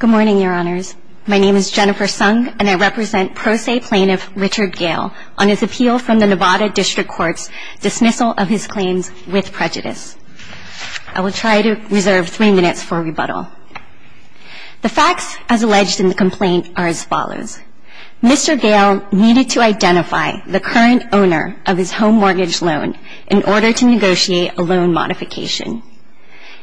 Good morning, Your Honors. My name is Jennifer Sung, and I represent pro se plaintiff Richard Gale on his appeal from the Nevada District Court's dismissal of his claims with prejudice. I will try to reserve three minutes for rebuttal. The facts, as alleged in the complaint, are as follows. Mr. Gale needed to identify the current owner of his home mortgage loan in order to negotiate a loan modification.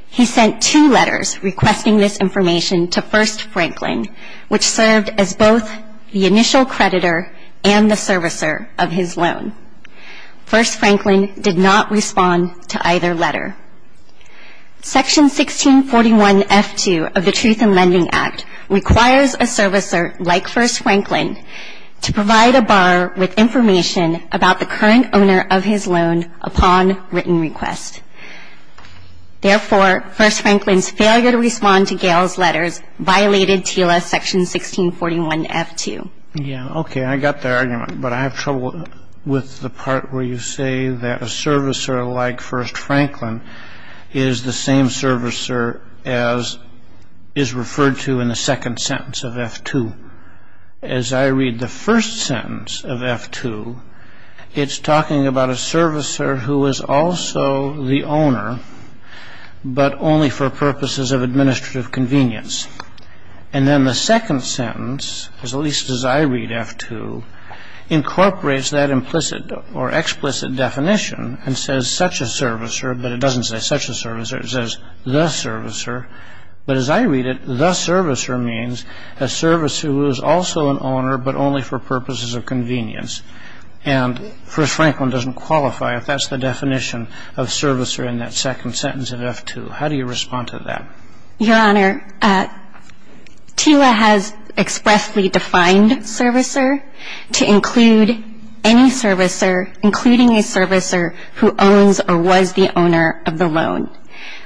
He sent two letters requesting this information to First Franklin, which served as both the initial creditor and the servicer of his loan. First Franklin did not respond to either letter. Section 1641F2 of the Truth in Lending Act requires a servicer like First Franklin to provide a borrower with information about the current owner of his loan upon written request. Therefore, First Franklin's failure to respond to Gale's letters violated TILA section 1641F2. Yeah, okay, I got the argument, but I have trouble with the part where you say that a servicer like First Franklin is the same servicer as is referred to in the second sentence of F2. As I read the first sentence of F2, it's talking about a servicer who is also the owner, but only for purposes of administrative convenience. And then the second sentence, at least as I read F2, incorporates that implicit or explicit definition and says such a servicer, but it doesn't say such a servicer. It says the servicer. But as I read it, the servicer means a servicer who is also an owner, but only for purposes of convenience. And First Franklin doesn't qualify if that's the definition of servicer in that second sentence of F2. How do you respond to that? Your Honor, TILA has expressly defined servicer to include any servicer, including a servicer who owns or was the owner of the loan.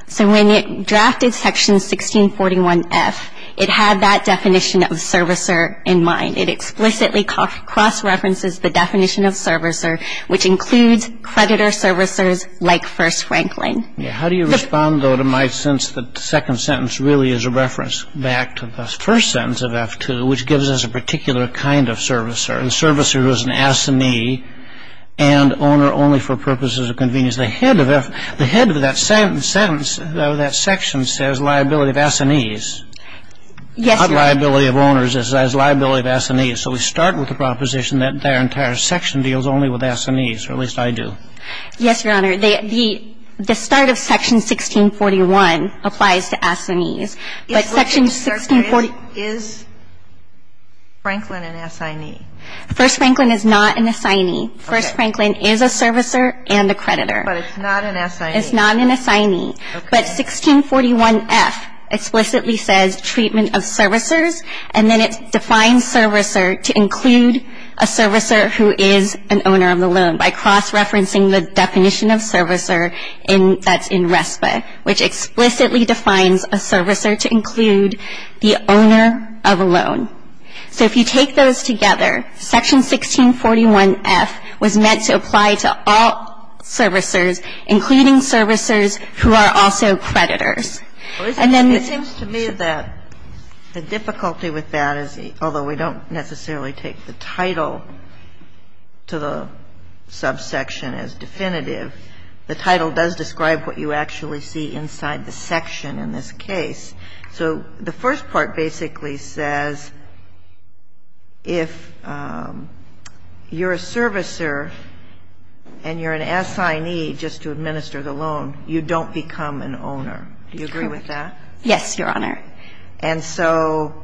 So when it drafted section 1641F, it had that definition of servicer in mind. It explicitly cross-references the definition of servicer, which includes creditor servicers like First Franklin. How do you respond, though, to my sense that the second sentence really is a reference back to the first sentence of F2, which gives us a particular kind of servicer, a servicer who is an assignee and owner only for purposes of convenience? The head of that sentence, that section, says liability of assignees. Yes, Your Honor. Not liability of owners. It says liability of assignees. So we start with the proposition that their entire section deals only with assignees, or at least I do. Yes, Your Honor. The start of section 1641 applies to assignees. But section 1640 Is Franklin an assignee? First Franklin is not an assignee. First Franklin is a servicer and a creditor. But it's not an assignee. It's not an assignee. Okay. But 1641F explicitly says treatment of servicers, and then it defines servicer to include a servicer who is an owner of the loan by cross-referencing the definition of servicer that's in RESPA, which explicitly defines a servicer to include the owner of a loan. So if you take those together, section 1641F was meant to apply to all servicers, including servicers who are also creditors. It seems to me that the difficulty with that is, although we don't necessarily take the title to the subsection as definitive, the title does describe what you actually see inside the section in this case. So the first part basically says if you're a servicer and you're an assignee just to administer the loan, you don't become an owner. Do you agree with that? Yes, Your Honor. And so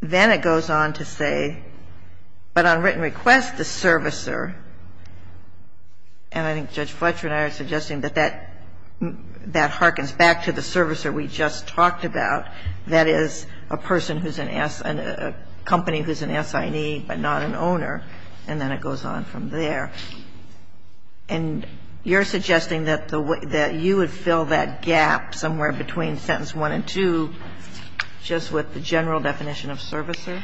then it goes on to say, but on written request, the servicer, and I think Judge Fletcher and I are suggesting that that harkens back to the servicer we just talked about, that is, a person who's an assignee, a company who's an assignee but not an owner, and then it goes on from there. And you're suggesting that you would fill that gap somewhere between sentence 1 and 2 just with the general definition of servicer?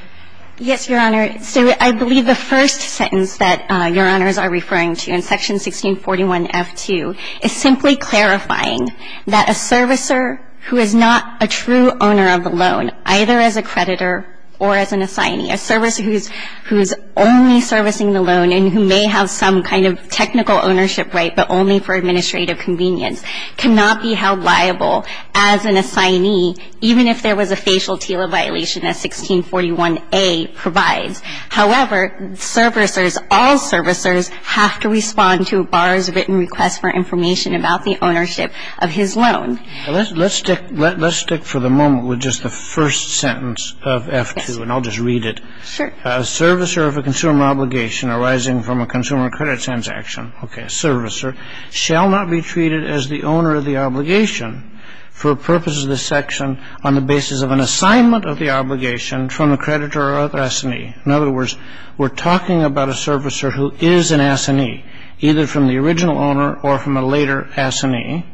Yes, Your Honor. So I believe the first sentence that Your Honors are referring to in section 1641F2 is simply clarifying that a servicer who is not a true owner of the loan, either as a creditor or as an assignee, a servicer who's only servicing the loan and who may have some kind of technical ownership right but only for administrative convenience, cannot be held liable as an assignee even if there was a facial TILA violation, as 1641A provides. However, servicers, all servicers, have to respond to a borrower's written request for information about the ownership of his loan. Let's stick for the moment with just the first sentence of F2, and I'll just read it. Sure. A servicer of a consumer obligation arising from a consumer credit transaction, okay, a servicer, shall not be treated as the owner of the obligation for purposes of this section on the basis of an assignment of the obligation from a creditor or other assignee. In other words, we're talking about a servicer who is an assignee, either from the original owner or from a later assignee,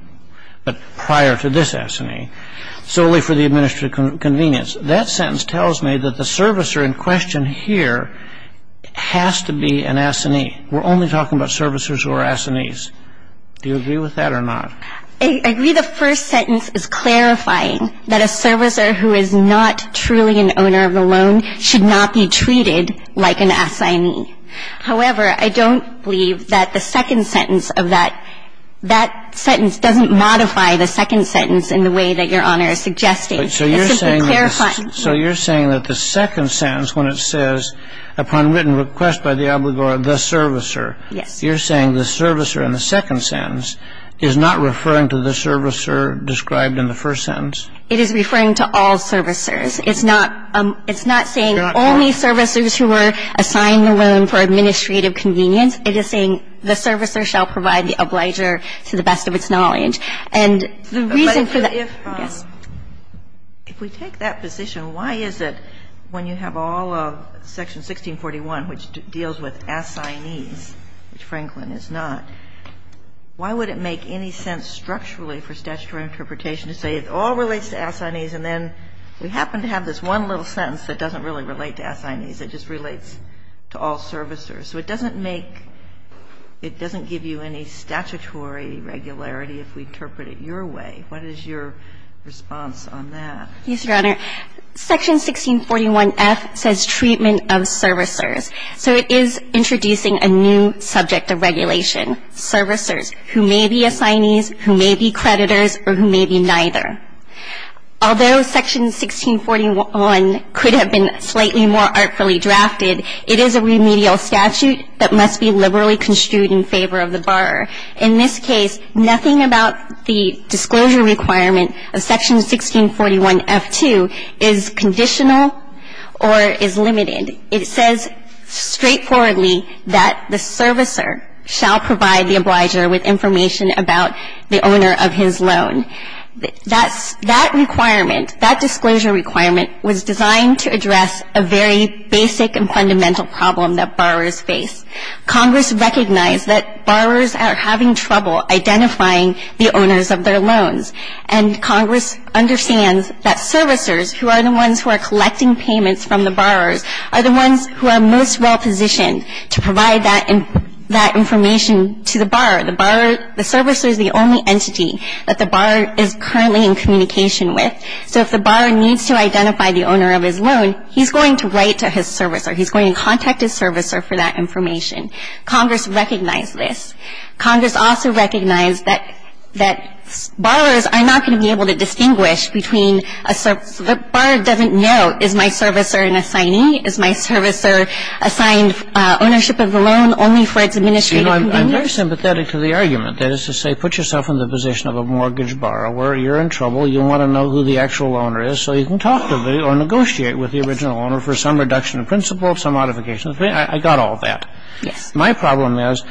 but prior to this assignee, solely for the administrative convenience. That sentence tells me that the servicer in question here has to be an assignee. We're only talking about servicers who are assignees. Do you agree with that or not? I agree the first sentence is clarifying that a servicer who is not truly an owner of the loan should not be treated like an assignee. However, I don't believe that the second sentence of that, that sentence doesn't modify the second sentence in the way that Your Honor is suggesting. It's simply clarifying. So you're saying that the second sentence, when it says, upon written request by the obligor, the servicer. Yes. You're saying the servicer in the second sentence is not referring to the servicer described in the first sentence? It is referring to all servicers. It's not saying only servicers who were assigned the loan for administrative convenience. It is saying the servicer shall provide the obligor to the best of its knowledge. And the reason for that. Yes. If we take that position, why is it when you have all of Section 1641, which deals with assignees, which Franklin is not, why would it make any sense structurally for statutory interpretation to say it all relates to assignees, and then we happen to have this one little sentence that doesn't really relate to assignees. It just relates to all servicers. So it doesn't make, it doesn't give you any statutory regularity if we interpret it your way. What is your response on that? Yes, Your Honor. Section 1641F says treatment of servicers. So it is introducing a new subject of regulation, servicers, who may be assignees, who may be creditors, or who may be neither. Although Section 1641 could have been slightly more artfully drafted, it is a remedial statute that must be liberally construed in favor of the borrower. In this case, nothing about the disclosure requirement of Section 1641F2 is conditional or is limited. It says straightforwardly that the servicer shall provide the obligor with information about the owner of his loan. That requirement, that disclosure requirement, was designed to address a very basic and fundamental problem that borrowers face. Congress recognized that borrowers are having trouble identifying the owners of their loans, and Congress understands that servicers, who are the ones who are collecting payments from the borrowers, are the ones who are most well positioned to provide that information to the borrower. The borrower, the servicer is the only entity that the borrower is currently in communication with. So if the borrower needs to identify the owner of his loan, he's going to write to his servicer. He's going to contact his servicer for that information. Congress recognized this. Congress also recognized that borrowers are not going to be able to distinguish between a servicer. The borrower doesn't know, is my servicer an assignee? Is my servicer assigned ownership of the loan only for its administrative convenience? Well, I'm very sympathetic to the argument. That is to say, put yourself in the position of a mortgage borrower. You're in trouble. You want to know who the actual owner is, so you can talk to the or negotiate with the original owner for some reduction in principle, some modification. I got all that. Yes. My problem is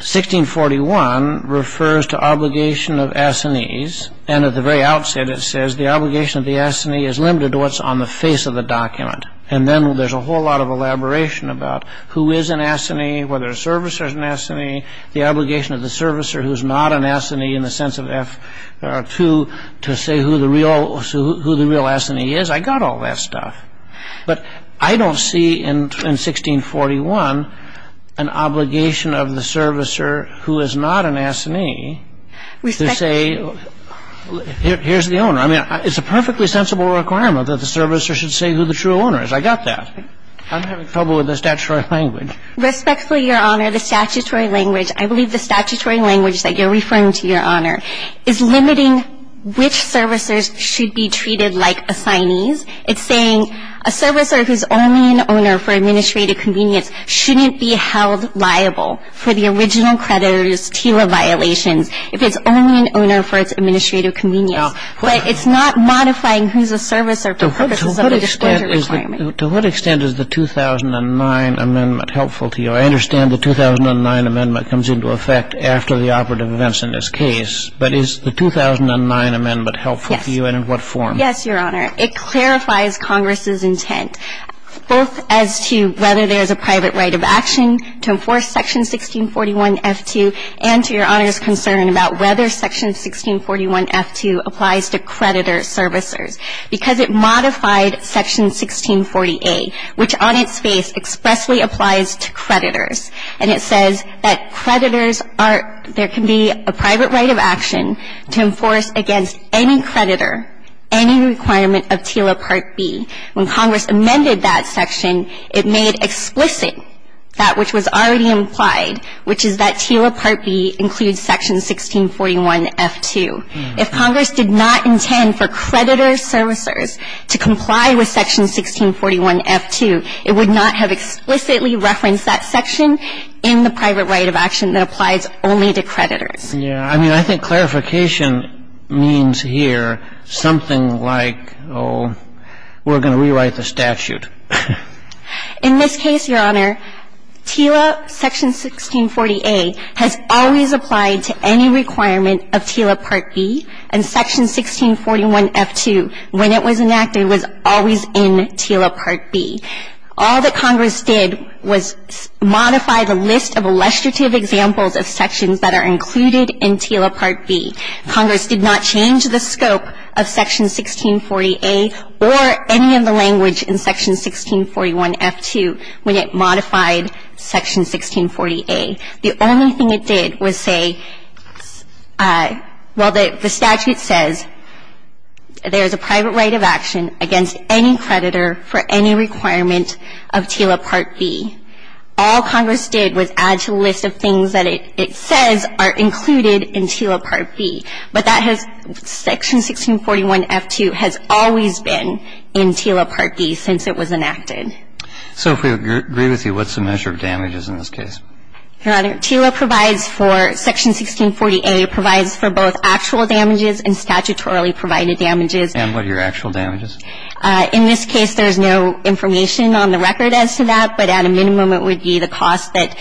1641 refers to obligation of assignees, and at the very outset it says the obligation of the assignee is limited to what's on the face of the document. And then there's a whole lot of elaboration about who is an assignee, whether a servicer is an assignee, the obligation of the servicer who is not an assignee in the sense of F2 to say who the real assignee is. I got all that stuff. But I don't see in 1641 an obligation of the servicer who is not an assignee to say here's the owner. I mean, it's a perfectly sensible requirement that the servicer should say who the true owner is. I got that. I'm having trouble with the statutory language. Respectfully, Your Honor, the statutory language, I believe the statutory language that you're referring to, Your Honor, is limiting which servicers should be treated like assignees. It's saying a servicer who's only an owner for administrative convenience shouldn't be held liable for the original creditor's TILA violations if it's only an owner for its administrative convenience. But it's not modifying who's a servicer for purposes of the disclosure requirement. Kagan, to what extent is the 2009 amendment helpful to you? I understand the 2009 amendment comes into effect after the operative events in this case, but is the 2009 amendment helpful to you and in what form? Yes, Your Honor. It clarifies Congress's intent, both as to whether there's a private right of action to enforce Section 1641F2 and to Your Honor's concern about whether Section 1641F2 applies to creditor servicers. Because it modified Section 1640A, which on its face expressly applies to creditors. And it says that creditors are – there can be a private right of action to enforce against any creditor any requirement of TILA Part B. When Congress amended that section, it made explicit that which was already implied, which is that TILA Part B includes Section 1641F2. If Congress did not intend for creditor servicers to comply with Section 1641F2, it would not have explicitly referenced that section in the private right of action that applies only to creditors. Yeah. I mean, I think clarification means here something like, oh, we're going to rewrite the statute. In this case, Your Honor, TILA Section 1640A has always applied to any requirement of TILA Part B. And Section 1641F2, when it was enacted, was always in TILA Part B. All that Congress did was modify the list of illustrative examples of sections that are included in TILA Part B. Congress did not change the scope of Section 1640A or any of the language in Section 1641F2 when it modified Section 1640A. The only thing it did was say, well, the statute says there is a private right of action against any creditor for any requirement of TILA Part B. All Congress did was add to the list of things that it says are included in TILA Part B. But that has – Section 1641F2 has always been in TILA Part B since it was enacted. So if we agree with you, what's the measure of damages in this case? Your Honor, TILA provides for – Section 1640A provides for both actual damages and statutorily provided damages. And what are your actual damages? In this case, there is no information on the record as to that, but at a minimum, it would be the cost that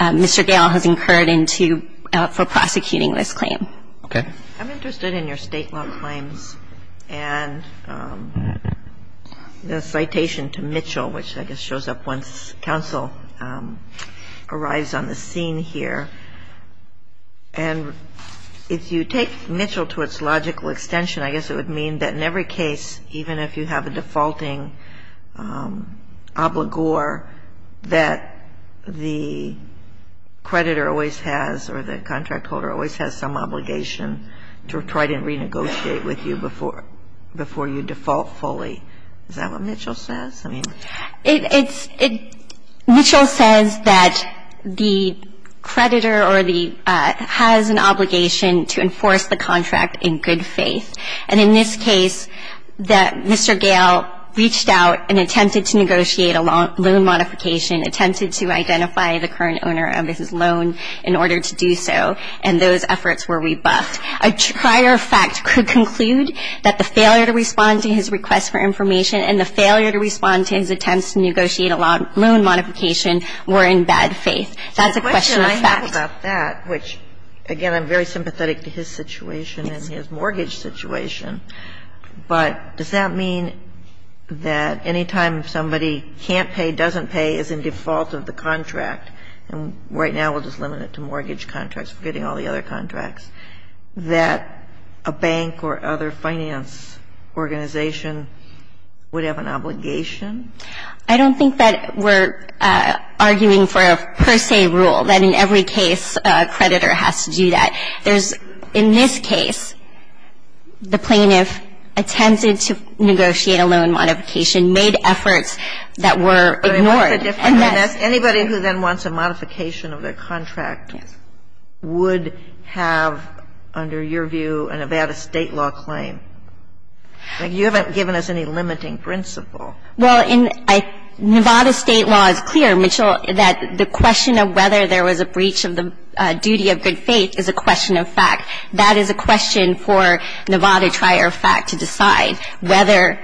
Mr. Gale has incurred into – for prosecuting this claim. Okay. I'm interested in your State law claims and the citation to Mitchell, which I guess shows up once counsel arrives on the scene here. And if you take Mitchell to its logical extension, I guess it would mean that in every case, even if you have a defaulting obligor, that the creditor always has or the contract holder always has some obligation to try to renegotiate with you before you default fully. Is that what Mitchell says? I mean – It's – Mitchell says that the creditor or the – has an obligation to enforce the contract in good faith. And in this case, that Mr. Gale reached out and attempted to negotiate a loan modification, attempted to identify the current owner of his loan in order to do so, and those efforts were rebuffed. A prior fact could conclude that the failure to respond to his request for information and the failure to respond to his attempts to negotiate a loan modification were in bad faith. That's a question of fact. The question I have about that, which, again, I'm very sympathetic to his situation and his mortgage situation, but does that mean that any time somebody can't pay, doesn't pay, is in default of the contract, and right now we'll just limit it to mortgage contracts, forgetting all the other contracts, that a bank or other finance organization would have an obligation? I don't think that we're arguing for a per se rule, that in every case a creditor has to do that. There's – in this case, the plaintiff attempted to negotiate a loan modification, made efforts that were ignored, and that's – Anybody who then wants a modification of their contract would have, under your view, a Nevada State law claim. You haven't given us any limiting principle. Well, in – Nevada State law is clear, Mitchell, that the question of whether there was a breach of the duty of good faith is a question of fact. That is a question for Nevada prior fact to decide, whether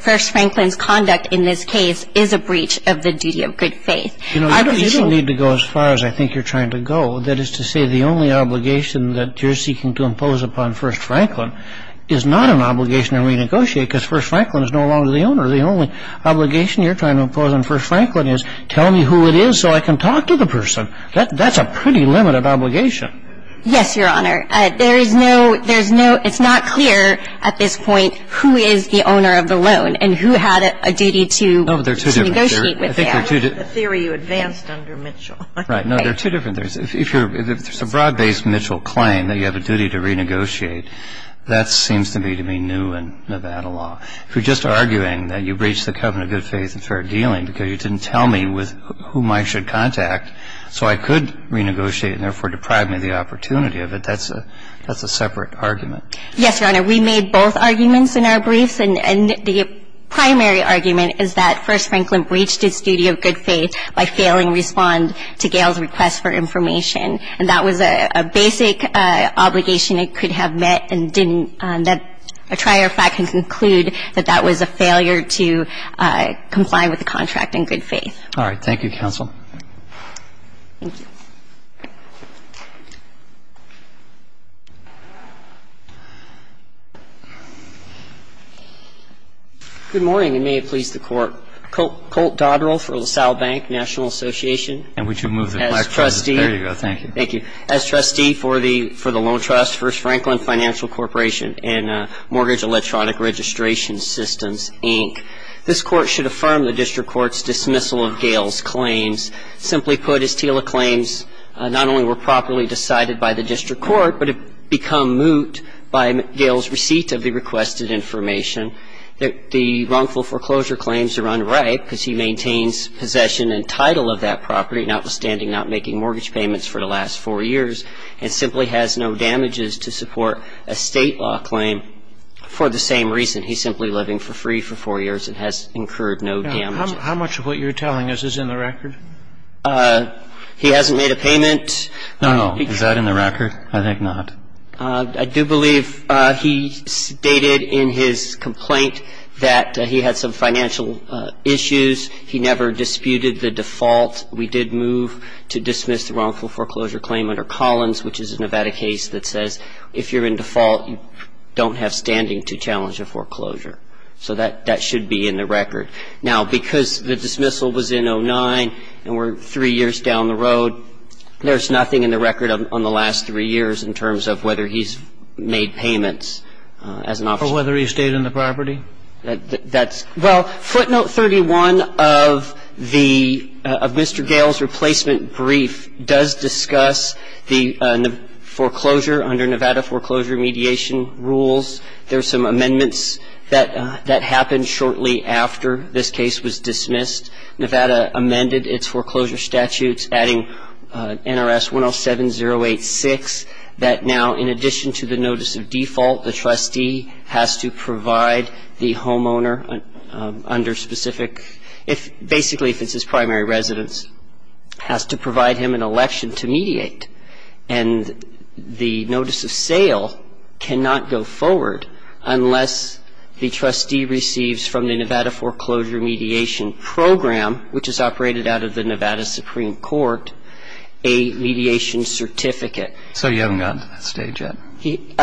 First Franklin's conduct in this case is a breach of the duty of good faith. You don't need to go as far as I think you're trying to go. That is to say, the only obligation that you're seeking to impose upon First Franklin is not an obligation to renegotiate, because First Franklin is no longer the owner. The only obligation you're trying to impose on First Franklin is, tell me who it is so I can talk to the person. That's a pretty limited obligation. Yes, Your Honor. There is no – there's no – it's not clear at this point who is the owner of the loan and who had a duty to negotiate with them. No, but there are two different theories. I think the theory you advanced under Mitchell. Right. No, there are two different theories. If you're – if there's a broad-based Mitchell claim that you have a duty to renegotiate, that seems to me to be new in Nevada law. If you're just arguing that you breached the covenant of good faith and started dealing because you didn't tell me with whom I should contact so I could renegotiate and therefore deprive me of the opportunity of it, that's a separate argument. Yes, Your Honor. We made both arguments in our briefs. And the primary argument is that First Franklin breached its duty of good faith by failing to respond to Gail's request for information. And that was a basic obligation it could have met and didn't. A trier fact can conclude that that was a failure to comply with the contract in good faith. All right. Thank you, counsel. Thank you. Good morning, and may it please the Court. Colt Dodrell for LaSalle Bank National Association. And would you move the microphone? There you go. Thank you. Thank you. As trustee for the loan trust, First Franklin Financial Corporation and Mortgage Electronic Registration Systems, Inc., this Court should affirm the district court's dismissal of Gail's claims. Simply put, his TILA claims not only were properly decided by the district court but have become moot by Gail's receipt of the requested information. The wrongful foreclosure claims are unripe because he maintains possession and title of that property, notwithstanding not making mortgage payments for the last four years, and simply has no damages to support a State law claim for the same reason. He's simply living for free for four years and has incurred no damages. How much of what you're telling us is in the record? He hasn't made a payment. No. Is that in the record? I think not. I do believe he stated in his complaint that he had some financial issues. He never disputed the default. We did move to dismiss the wrongful foreclosure claim under Collins, which is a Nevada case that says if you're in default, you don't have standing to challenge a foreclosure. So that should be in the record. Now, because the dismissal was in 2009 and we're three years down the road, there's nothing in the record on the last three years in terms of whether he's made payments as an officer. Or whether he stayed on the property? Well, footnote 31 of Mr. Gale's replacement brief does discuss the foreclosure under Nevada foreclosure mediation rules. There are some amendments that happened shortly after this case was dismissed. Nevada amended its foreclosure statutes, adding NRS 107086, that now in addition to the notice of default, the trustee has to provide the homeowner under specific, basically if it's his primary residence, has to provide him an election to mediate. And the notice of sale cannot go forward unless the trustee receives from the Nevada foreclosure mediation program, which is operated out of the Nevada Supreme Court, a mediation certificate. So you haven't gotten to that stage yet? He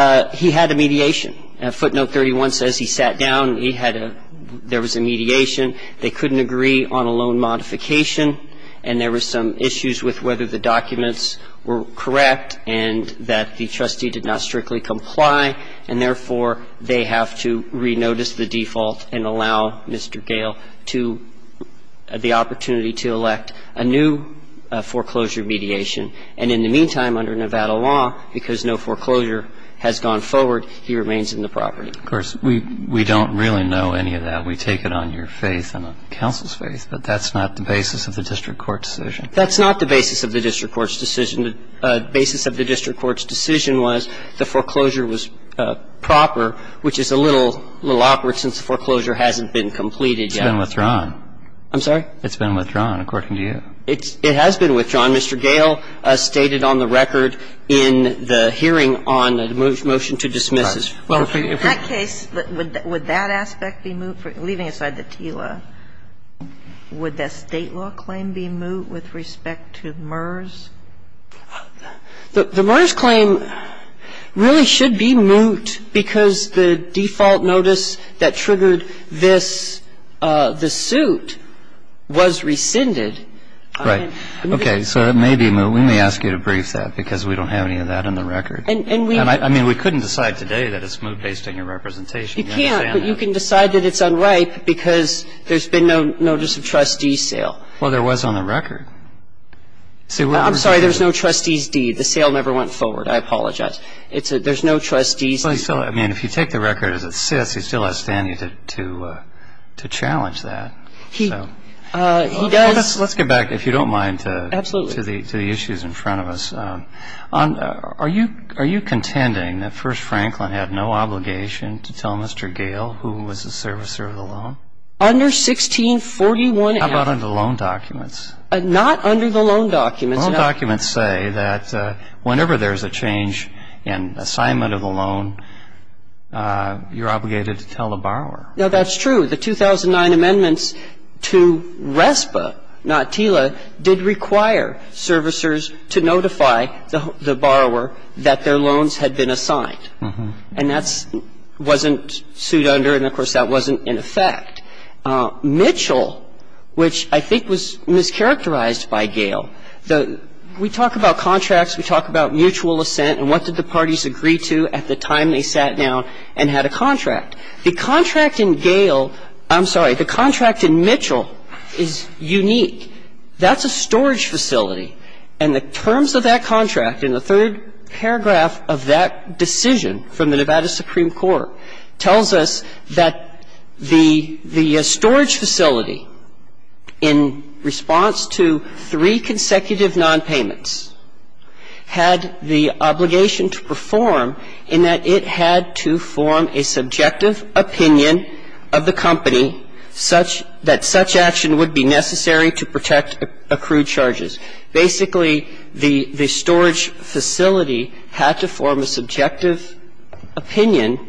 had a mediation. Footnote 31 says he sat down, he had a, there was a mediation. They couldn't agree on a loan modification. And there were some issues with whether the documents were correct and that the trustee did not strictly comply. And therefore, they have to re-notice the default and allow Mr. Gale to, the opportunity to elect a new foreclosure mediation. And in the meantime, under Nevada law, because no foreclosure has gone forward, he remains in the property. Of course, we don't really know any of that. We take it on your faith and on counsel's faith. But that's not the basis of the district court's decision. That's not the basis of the district court's decision. The basis of the district court's decision was the foreclosure was proper, which is a little awkward since the foreclosure hasn't been completed yet. It's been withdrawn. I'm sorry? It's been withdrawn, according to you. It has been withdrawn. Mr. Gale stated on the record in the hearing on the motion to dismiss this. In that case, would that aspect be moot? Leaving aside the TILA, would that State law claim be moot with respect to MERS? The MERS claim really should be moot because the default notice that triggered this, the suit, was rescinded. Right. Okay. So it may be moot. We may ask you to brief that because we don't have any of that on the record. And we don't. I mean, we couldn't decide today that it's moot based on your representation. You can't. But you can decide that it's unripe because there's been no notice of trustee sale. Well, there was on the record. I'm sorry. There's no trustee's deed. The sale never went forward. I apologize. There's no trustee's deed. I mean, if you take the record as it sits, he still has standing to challenge that. He does. Let's get back, if you don't mind. Absolutely. To the issues in front of us. Are you contending that First Franklin had no obligation to tell Mr. Gale who was the servicer of the loan? Under 1641. How about under the loan documents? Not under the loan documents. Loan documents say that whenever there's a change in assignment of the loan, you're obligated to tell the borrower. No, that's true. The 2009 amendments to RESPA, not TILA, did require servicers to notify the borrower that their loans had been assigned. And that wasn't sued under and, of course, that wasn't in effect. Mitchell, which I think was mischaracterized by Gale, the we talk about contracts, we talk about mutual assent and what did the parties agree to at the time they sat down and had a contract. The contract in Gale, I'm sorry, the contract in Mitchell is unique. That's a storage facility. And the terms of that contract in the third paragraph of that decision from the Nevada Supreme Court tells us that the storage facility in response to three consecutive nonpayments had the obligation to perform in that it had to form a subjective opinion of the company such that such action would be necessary to protect accrued charges. Basically, the storage facility had to form a subjective opinion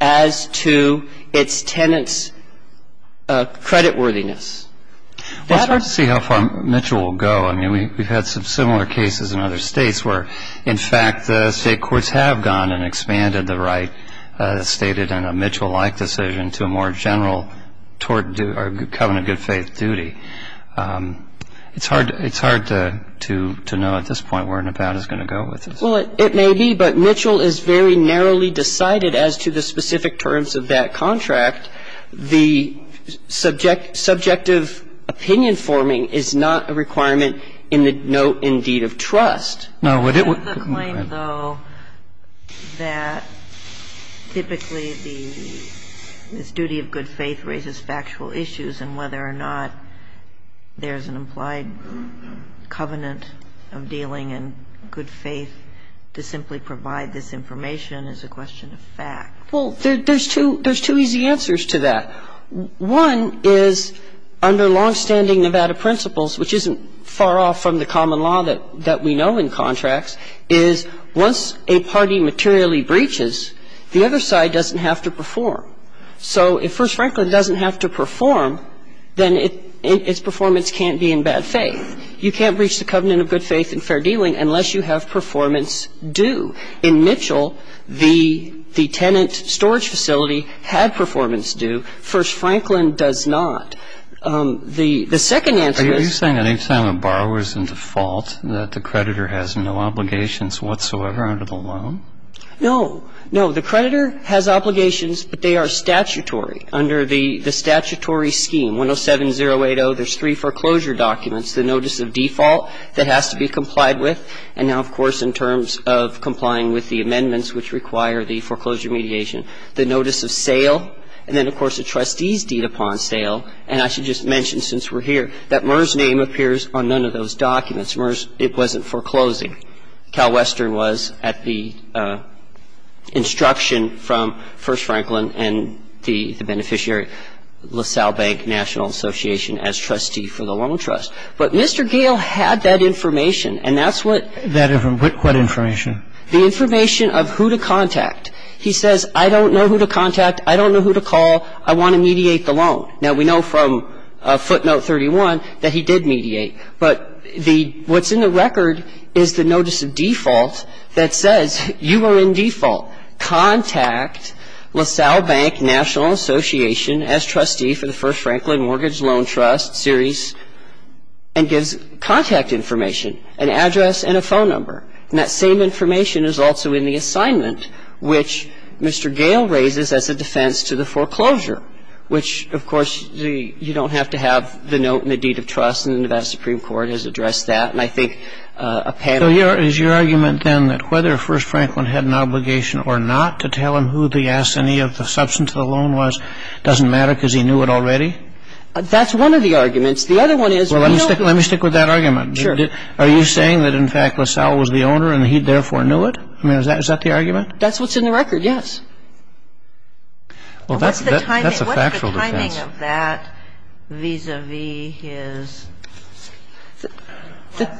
as to its tenants' creditworthiness. That or… Well, it's hard to see how far Mitchell will go. I mean, we've had some similar cases in other states where, in fact, the state courts have gone and expanded the right stated in a Mitchell-like decision to a more general covenant of good faith duty. It's hard to know at this point where Nevada is going to go with this. Well, it may be, but Mitchell is very narrowly decided as to the specific terms of that contract. The subjective opinion forming is not a requirement in the note in deed of trust. No, but it would… It's a claim, though, that typically the duty of good faith raises factual issues and whether or not there's an implied covenant of dealing in good faith to simply provide this information is a question of fact. Well, there's two easy answers to that. One is, under longstanding Nevada principles, which isn't far off from the common law that we know in contracts, is once a party materially breaches, the other side doesn't have to perform. So if First Franklin doesn't have to perform, then its performance can't be in bad faith. You can't breach the covenant of good faith in fair dealing unless you have performance due. In Mitchell, the tenant storage facility had performance due. First Franklin does not. The second answer is… Are you saying that each time a borrower is in default that the creditor has no obligations whatsoever under the loan? No. No, the creditor has obligations, but they are statutory. Under the statutory scheme, 107080, there's three foreclosure documents, the notice of default that has to be complied with, and now, of course, in terms of complying with the amendments which require the foreclosure mediation, the notice of sale, and then, of course, a trustee's deed upon sale. And I should just mention, since we're here, that Murr's name appears on none of those documents. Murr's, it wasn't foreclosing. CalWestern was at the instruction from First Franklin and the beneficiary, LaSalle Bank National Association, as trustee for the loan trust. But Mr. Gale had that information, and that's what… That information. What information? The information of who to contact. He says, I don't know who to contact. I don't know who to call. I want to mediate the loan. Now, we know from footnote 31 that he did mediate. But the – what's in the record is the notice of default that says, you are in default. Contact LaSalle Bank National Association as trustee for the First Franklin Mortgage Loan Trust series, and gives contact information, an address and a phone number. And that same information is also in the assignment which Mr. Gale raises as a defense to the foreclosure, which, of course, you don't have to have the note and the deed of trust, and the Nevada Supreme Court has addressed that. And I think a panel… So your – is your argument, then, that whether First Franklin had an obligation or not to tell him who the assignee of the substance of the loan was doesn't matter because he knew it already? That's one of the arguments. The other one is… Well, let me stick – let me stick with that argument. Sure. Are you saying that, in fact, LaSalle was the owner and he therefore knew it? I mean, is that – is that the argument? That's what's in the record, yes. Well, that's a factual defense. The only thing I'm concerned about is the timing of that vis-à-vis his…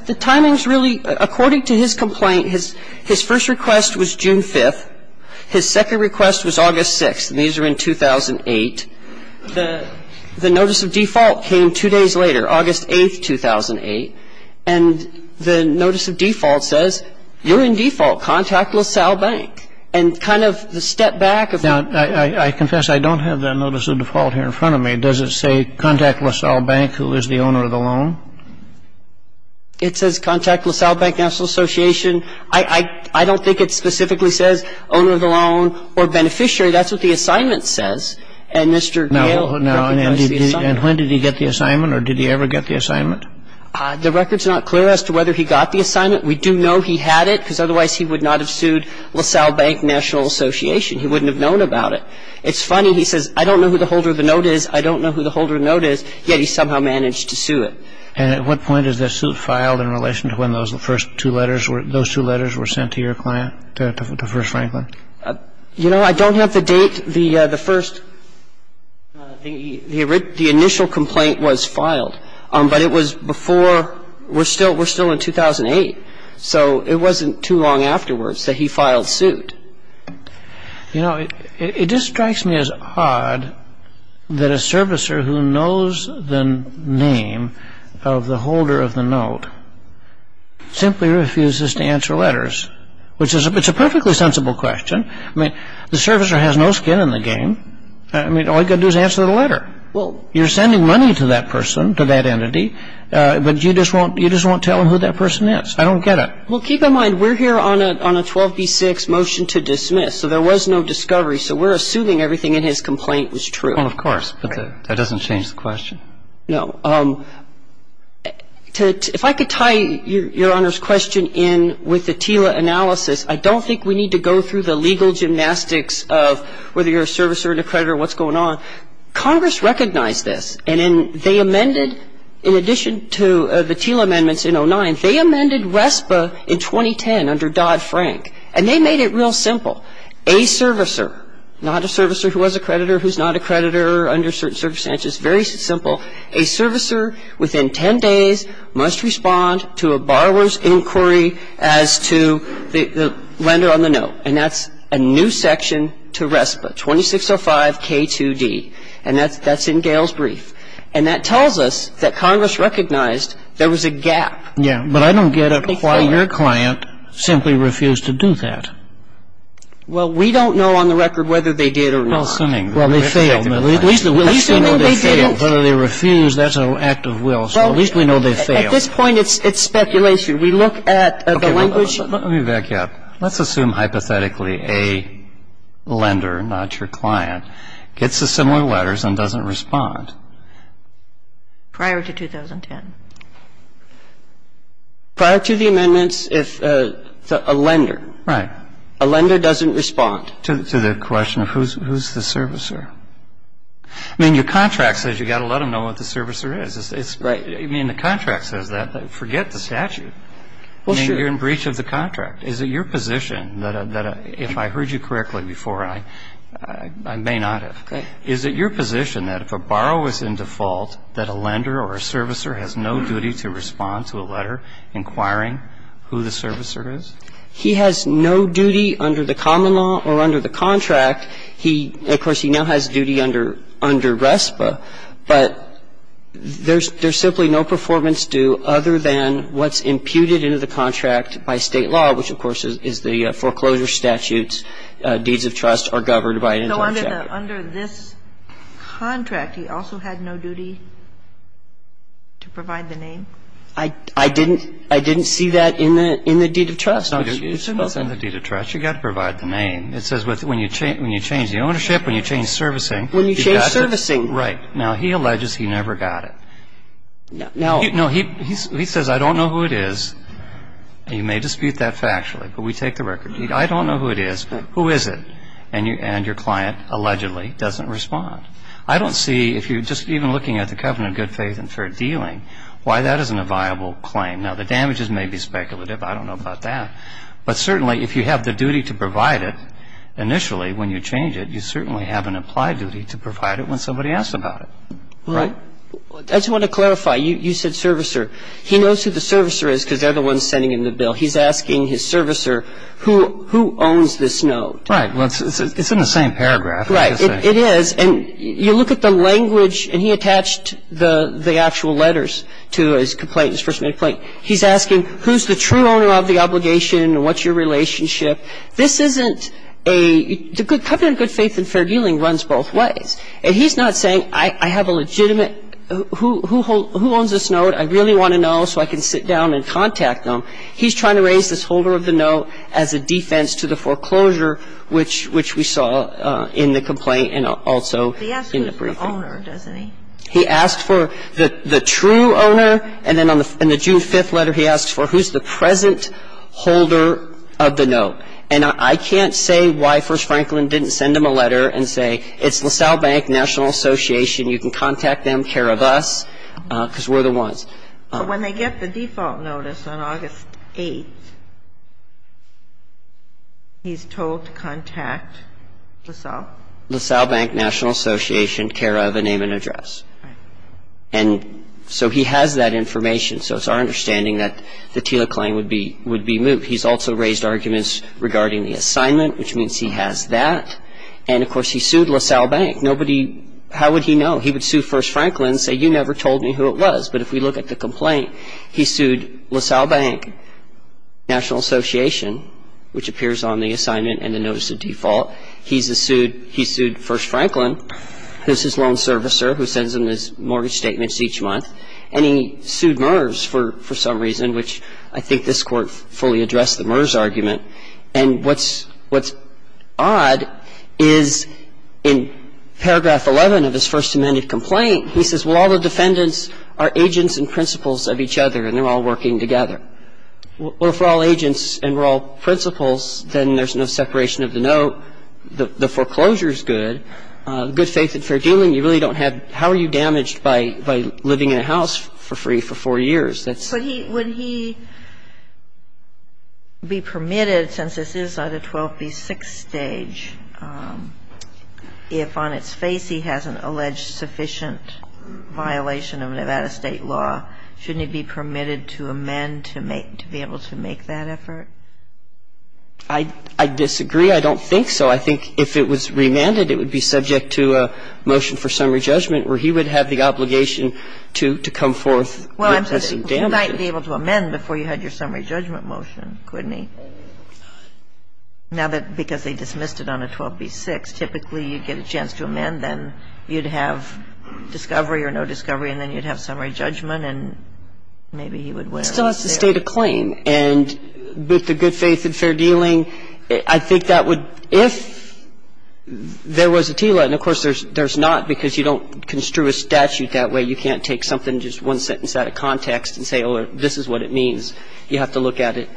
The timing is really – according to his complaint, his first request was June 5th. His second request was August 6th, and these are in 2008. The notice of default came two days later, August 8th, 2008. And the notice of default says, you're in default, contact LaSalle Bank. And kind of the step back of… Now, I confess I don't have that notice of default here in front of me. Does it say contact LaSalle Bank, who is the owner of the loan? It says contact LaSalle Bank National Association. I don't think it specifically says owner of the loan or beneficiary. That's what the assignment says. And Mr. Gale… The record's not clear as to whether he got the assignment. We do know he had it, because otherwise he would not have sued LaSalle Bank National Association. He wouldn't have known about it. It's funny. He says, I don't know who the holder of the note is, I don't know who the holder of the note is, yet he somehow managed to sue it. And at what point is the suit filed in relation to when those first two letters were – those two letters were sent to your client, to First Franklin? You know, I don't have the date. I don't have the date. But I do have the date. I have the date. And the first – the initial complaint was filed. But it was before – we're still in 2008, so it wasn't too long afterwards that he filed suit. You know, it just strikes me as odd that a servicer who knows the name of the holder of the note simply refuses to answer letters, which is – it's a perfectly sensible question. I mean, the servicer has no skin in the game. I mean, all you've got to do is answer the letter. You're sending money to that person, to that entity, but you just won't tell him who that person is. I don't get it. Well, keep in mind, we're here on a 12b-6 motion to dismiss, so there was no discovery. So we're assuming everything in his complaint was true. Well, of course, but that doesn't change the question. No. If I could tie Your Honor's question in with the TILA analysis, I don't think we need to go through the legal gymnastics of whether you're a servicer, an accreditor, what's going on. Congress recognized this. And they amended, in addition to the TILA amendments in 2009, they amended RESPA in 2010 under Dodd-Frank. And they made it real simple. A servicer, not a servicer who was a creditor who's not a creditor under certain circumstances, very simple, a servicer within 10 days must respond to a borrower's inquiry as to the lender on the note. And that's a new section to RESPA, 2605K2D. And that's in Gail's brief. And that tells us that Congress recognized there was a gap. Yeah, but I don't get it why your client simply refused to do that. Well, we don't know on the record whether they did or not. Well, they failed. At least we know they failed. Whether they refused, that's an act of will. So at least we know they failed. At this point, it's speculation. We look at the language. Let me back you up. Let's assume hypothetically a lender, not your client, gets the similar letters and doesn't respond. Prior to 2010. Prior to the amendments, if a lender. Right. A lender doesn't respond. To the question of who's the servicer. I mean, your contract says you've got to let them know what the servicer is. Right. I mean, the contract says that. Forget the statute. Well, sure. You're in breach of the contract. Is it your position that if I heard you correctly before, and I may not have. Okay. Is it your position that if a borrow is in default, that a lender or a servicer has no duty to respond to a letter inquiring who the servicer is? He has no duty under the common law or under the contract. He, of course, he now has duty under RESPA, but there's simply no performance due other than what's imputed into the contract by State law, which, of course, is the foreclosure statutes. Deeds of trust are governed by an internal chapter. So under this contract, he also had no duty to provide the name? I didn't see that in the deed of trust. It's in the deed of trust. You've got to provide the name. It says when you change the ownership, when you change servicing. When you change servicing. Right. Now, he alleges he never got it. Now, he says I don't know who it is. You may dispute that factually, but we take the record. I don't know who it is. Who is it? And your client allegedly doesn't respond. I don't see, if you're just even looking at the covenant of good faith and fair dealing, why that isn't a viable claim. Now, the damages may be speculative. I don't know about that. But certainly, if you have the duty to provide it initially when you change it, you certainly have an applied duty to provide it when somebody asks about it. Right. I just want to clarify. You said servicer. He knows who the servicer is because they're the ones sending him the bill. He's asking his servicer who owns this note. Right. Well, it's in the same paragraph. Right. It is. And you look at the language, and he attached the actual letters to his complaint, his first-name complaint. He's asking who's the true owner of the obligation and what's your relationship. This isn't a – the covenant of good faith and fair dealing runs both ways. And he's not saying I have a legitimate – who owns this note? I really want to know so I can sit down and contact them. He's trying to raise this holder of the note as a defense to the foreclosure, which we saw in the complaint and also in the briefing. He asks for the owner, doesn't he? He asks for the true owner, and then in the June 5th letter, he asks for who's the present holder of the note. And I can't say why First Franklin didn't send him a letter and say, it's LaSalle Bank National Association, you can contact them, care of us, because we're the ones. But when they get the default notice on August 8th, he's told to contact LaSalle? LaSalle Bank National Association, care of, and name and address. Right. And so he has that information. So it's our understanding that the TILA claim would be moved. He's also raised arguments regarding the assignment, which means he has that. And, of course, he sued LaSalle Bank. Nobody – how would he know? He would sue First Franklin and say, you never told me who it was. But if we look at the complaint, he sued LaSalle Bank National Association, which appears on the assignment and the notice of default. He's sued First Franklin, who's his loan servicer, who sends him his mortgage statements each month. And he sued MERS for some reason, which I think this Court fully addressed the MERS argument. And what's odd is in paragraph 11 of his First Amendment complaint, he says, well, all the defendants are agents and principals of each other, and they're all working together. Well, if we're all agents and we're all principals, then there's no separation of the note. The foreclosure is good. Good faith and fair dealing. And it's a good thing. You really don't have – how are you damaged by living in a house for free for four years? That's – But he – would he be permitted, since this is on the 12b6 stage, if on its face he hasn't alleged sufficient violation of Nevada state law, shouldn't he be permitted to amend to make – to be able to make that effort? I disagree. I don't think so. I think if it was remanded, it would be subject to a motion for summary judgment where he would have the obligation to come forth witnessing damage. Well, you might be able to amend before you had your summary judgment motion, couldn't he? Now that – because they dismissed it on a 12b6, typically you get a chance to amend, then you'd have discovery or no discovery, and then you'd have summary judgment, and maybe he would wear his suit. He would have the obligation to state a claim. He still has to state a claim. And with the good faith and fair dealing, I think that would – if there was a TILA, and of course there's not because you don't construe a statute that way, you can't take something, just one sentence out of context and say, oh, this is what it means. You have to look at it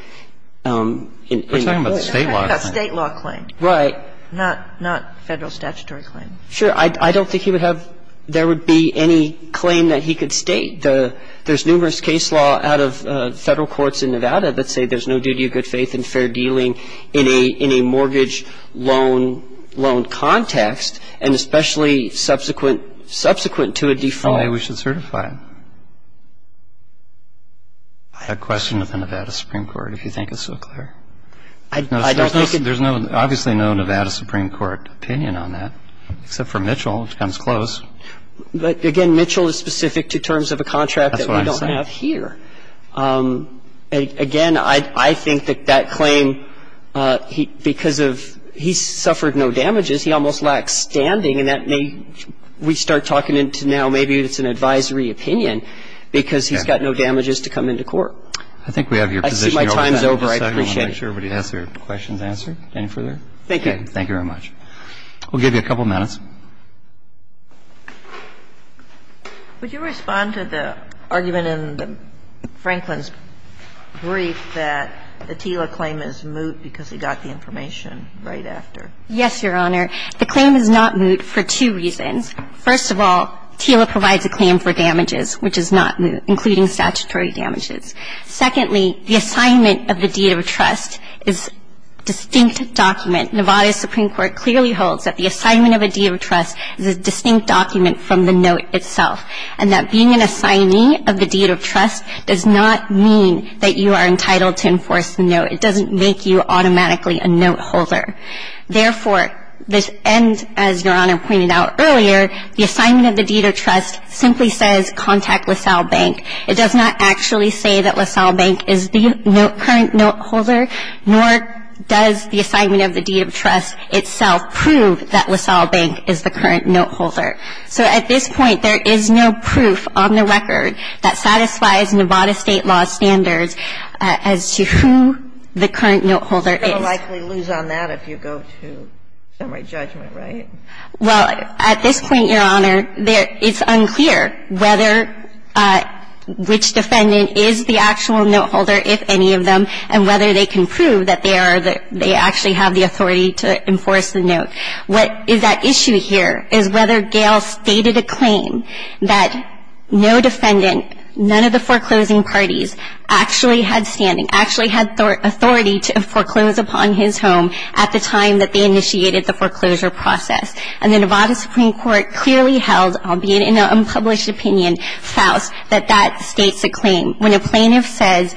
in the court. We're talking about the state law. State law claim. Right. Not federal statutory claim. Sure. I don't think he would have – there would be any claim that he could state. There's numerous case law out of federal courts in Nevada that say there's no duty of good faith and fair dealing in a mortgage loan context, and especially subsequent to a default. Maybe we should certify it. I have a question of the Nevada Supreme Court, if you think it's so clear. I don't think it's – There's obviously no Nevada Supreme Court opinion on that, except for Mitchell, which comes close. But, again, Mitchell is specific to terms of a contract that we don't have here. That's what I'm saying. Again, I think that that claim, because of – he suffered no damages. He almost lacks standing, and that may – we start talking into now maybe it's an advisory opinion because he's got no damages to come into court. I think we have your position. I see my time's over. I appreciate it. Thank you. Thank you. Thank you very much. We'll give you a couple minutes. Would you respond to the argument in Franklin's brief that the TILA claim is moot because he got the information right after? Yes, Your Honor. The claim is not moot for two reasons. First of all, TILA provides a claim for damages, which is not moot, including statutory damages. Secondly, the assignment of the deed of trust is a distinct document. Nevada's Supreme Court clearly holds that the assignment of a deed of trust is a distinct document from the note itself, and that being an assignee of the deed of trust does not mean that you are entitled to enforce the note. It doesn't make you automatically a note holder. Therefore, this ends, as Your Honor pointed out earlier, the assignment of the deed of trust simply says contact LaSalle Bank. It does not actually say that LaSalle Bank is the current note holder, nor does the assignment of the deed of trust itself prove that LaSalle Bank is the current note holder. So at this point, there is no proof on the record that satisfies Nevada State law's standards as to who the current note holder is. You're going to likely lose on that if you go to summary judgment, right? Well, at this point, Your Honor, there – it's unclear whether – which defendant is the actual note holder, if any of them, and whether they can prove that they are – that they actually have the authority to enforce the note. What is at issue here is whether Gail stated a claim that no defendant, none of the foreclosing parties, actually had standing, actually had authority to foreclose upon his home at the time that they initiated the foreclosure process. And the Nevada Supreme Court clearly held, albeit in an unpublished opinion, Faust, that that states a claim. When a plaintiff says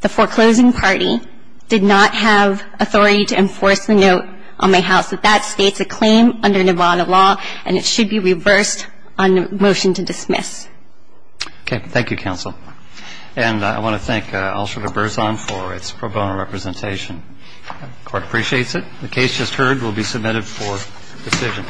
the foreclosing party did not have authority to enforce the note on my house, that that states a claim under Nevada law, and it should be reversed on the motion to dismiss. Okay. Thank you, counsel. And I want to thank Ulster-LaBerzone for its pro bono representation. The Court appreciates it. The case just heard will be submitted for decision.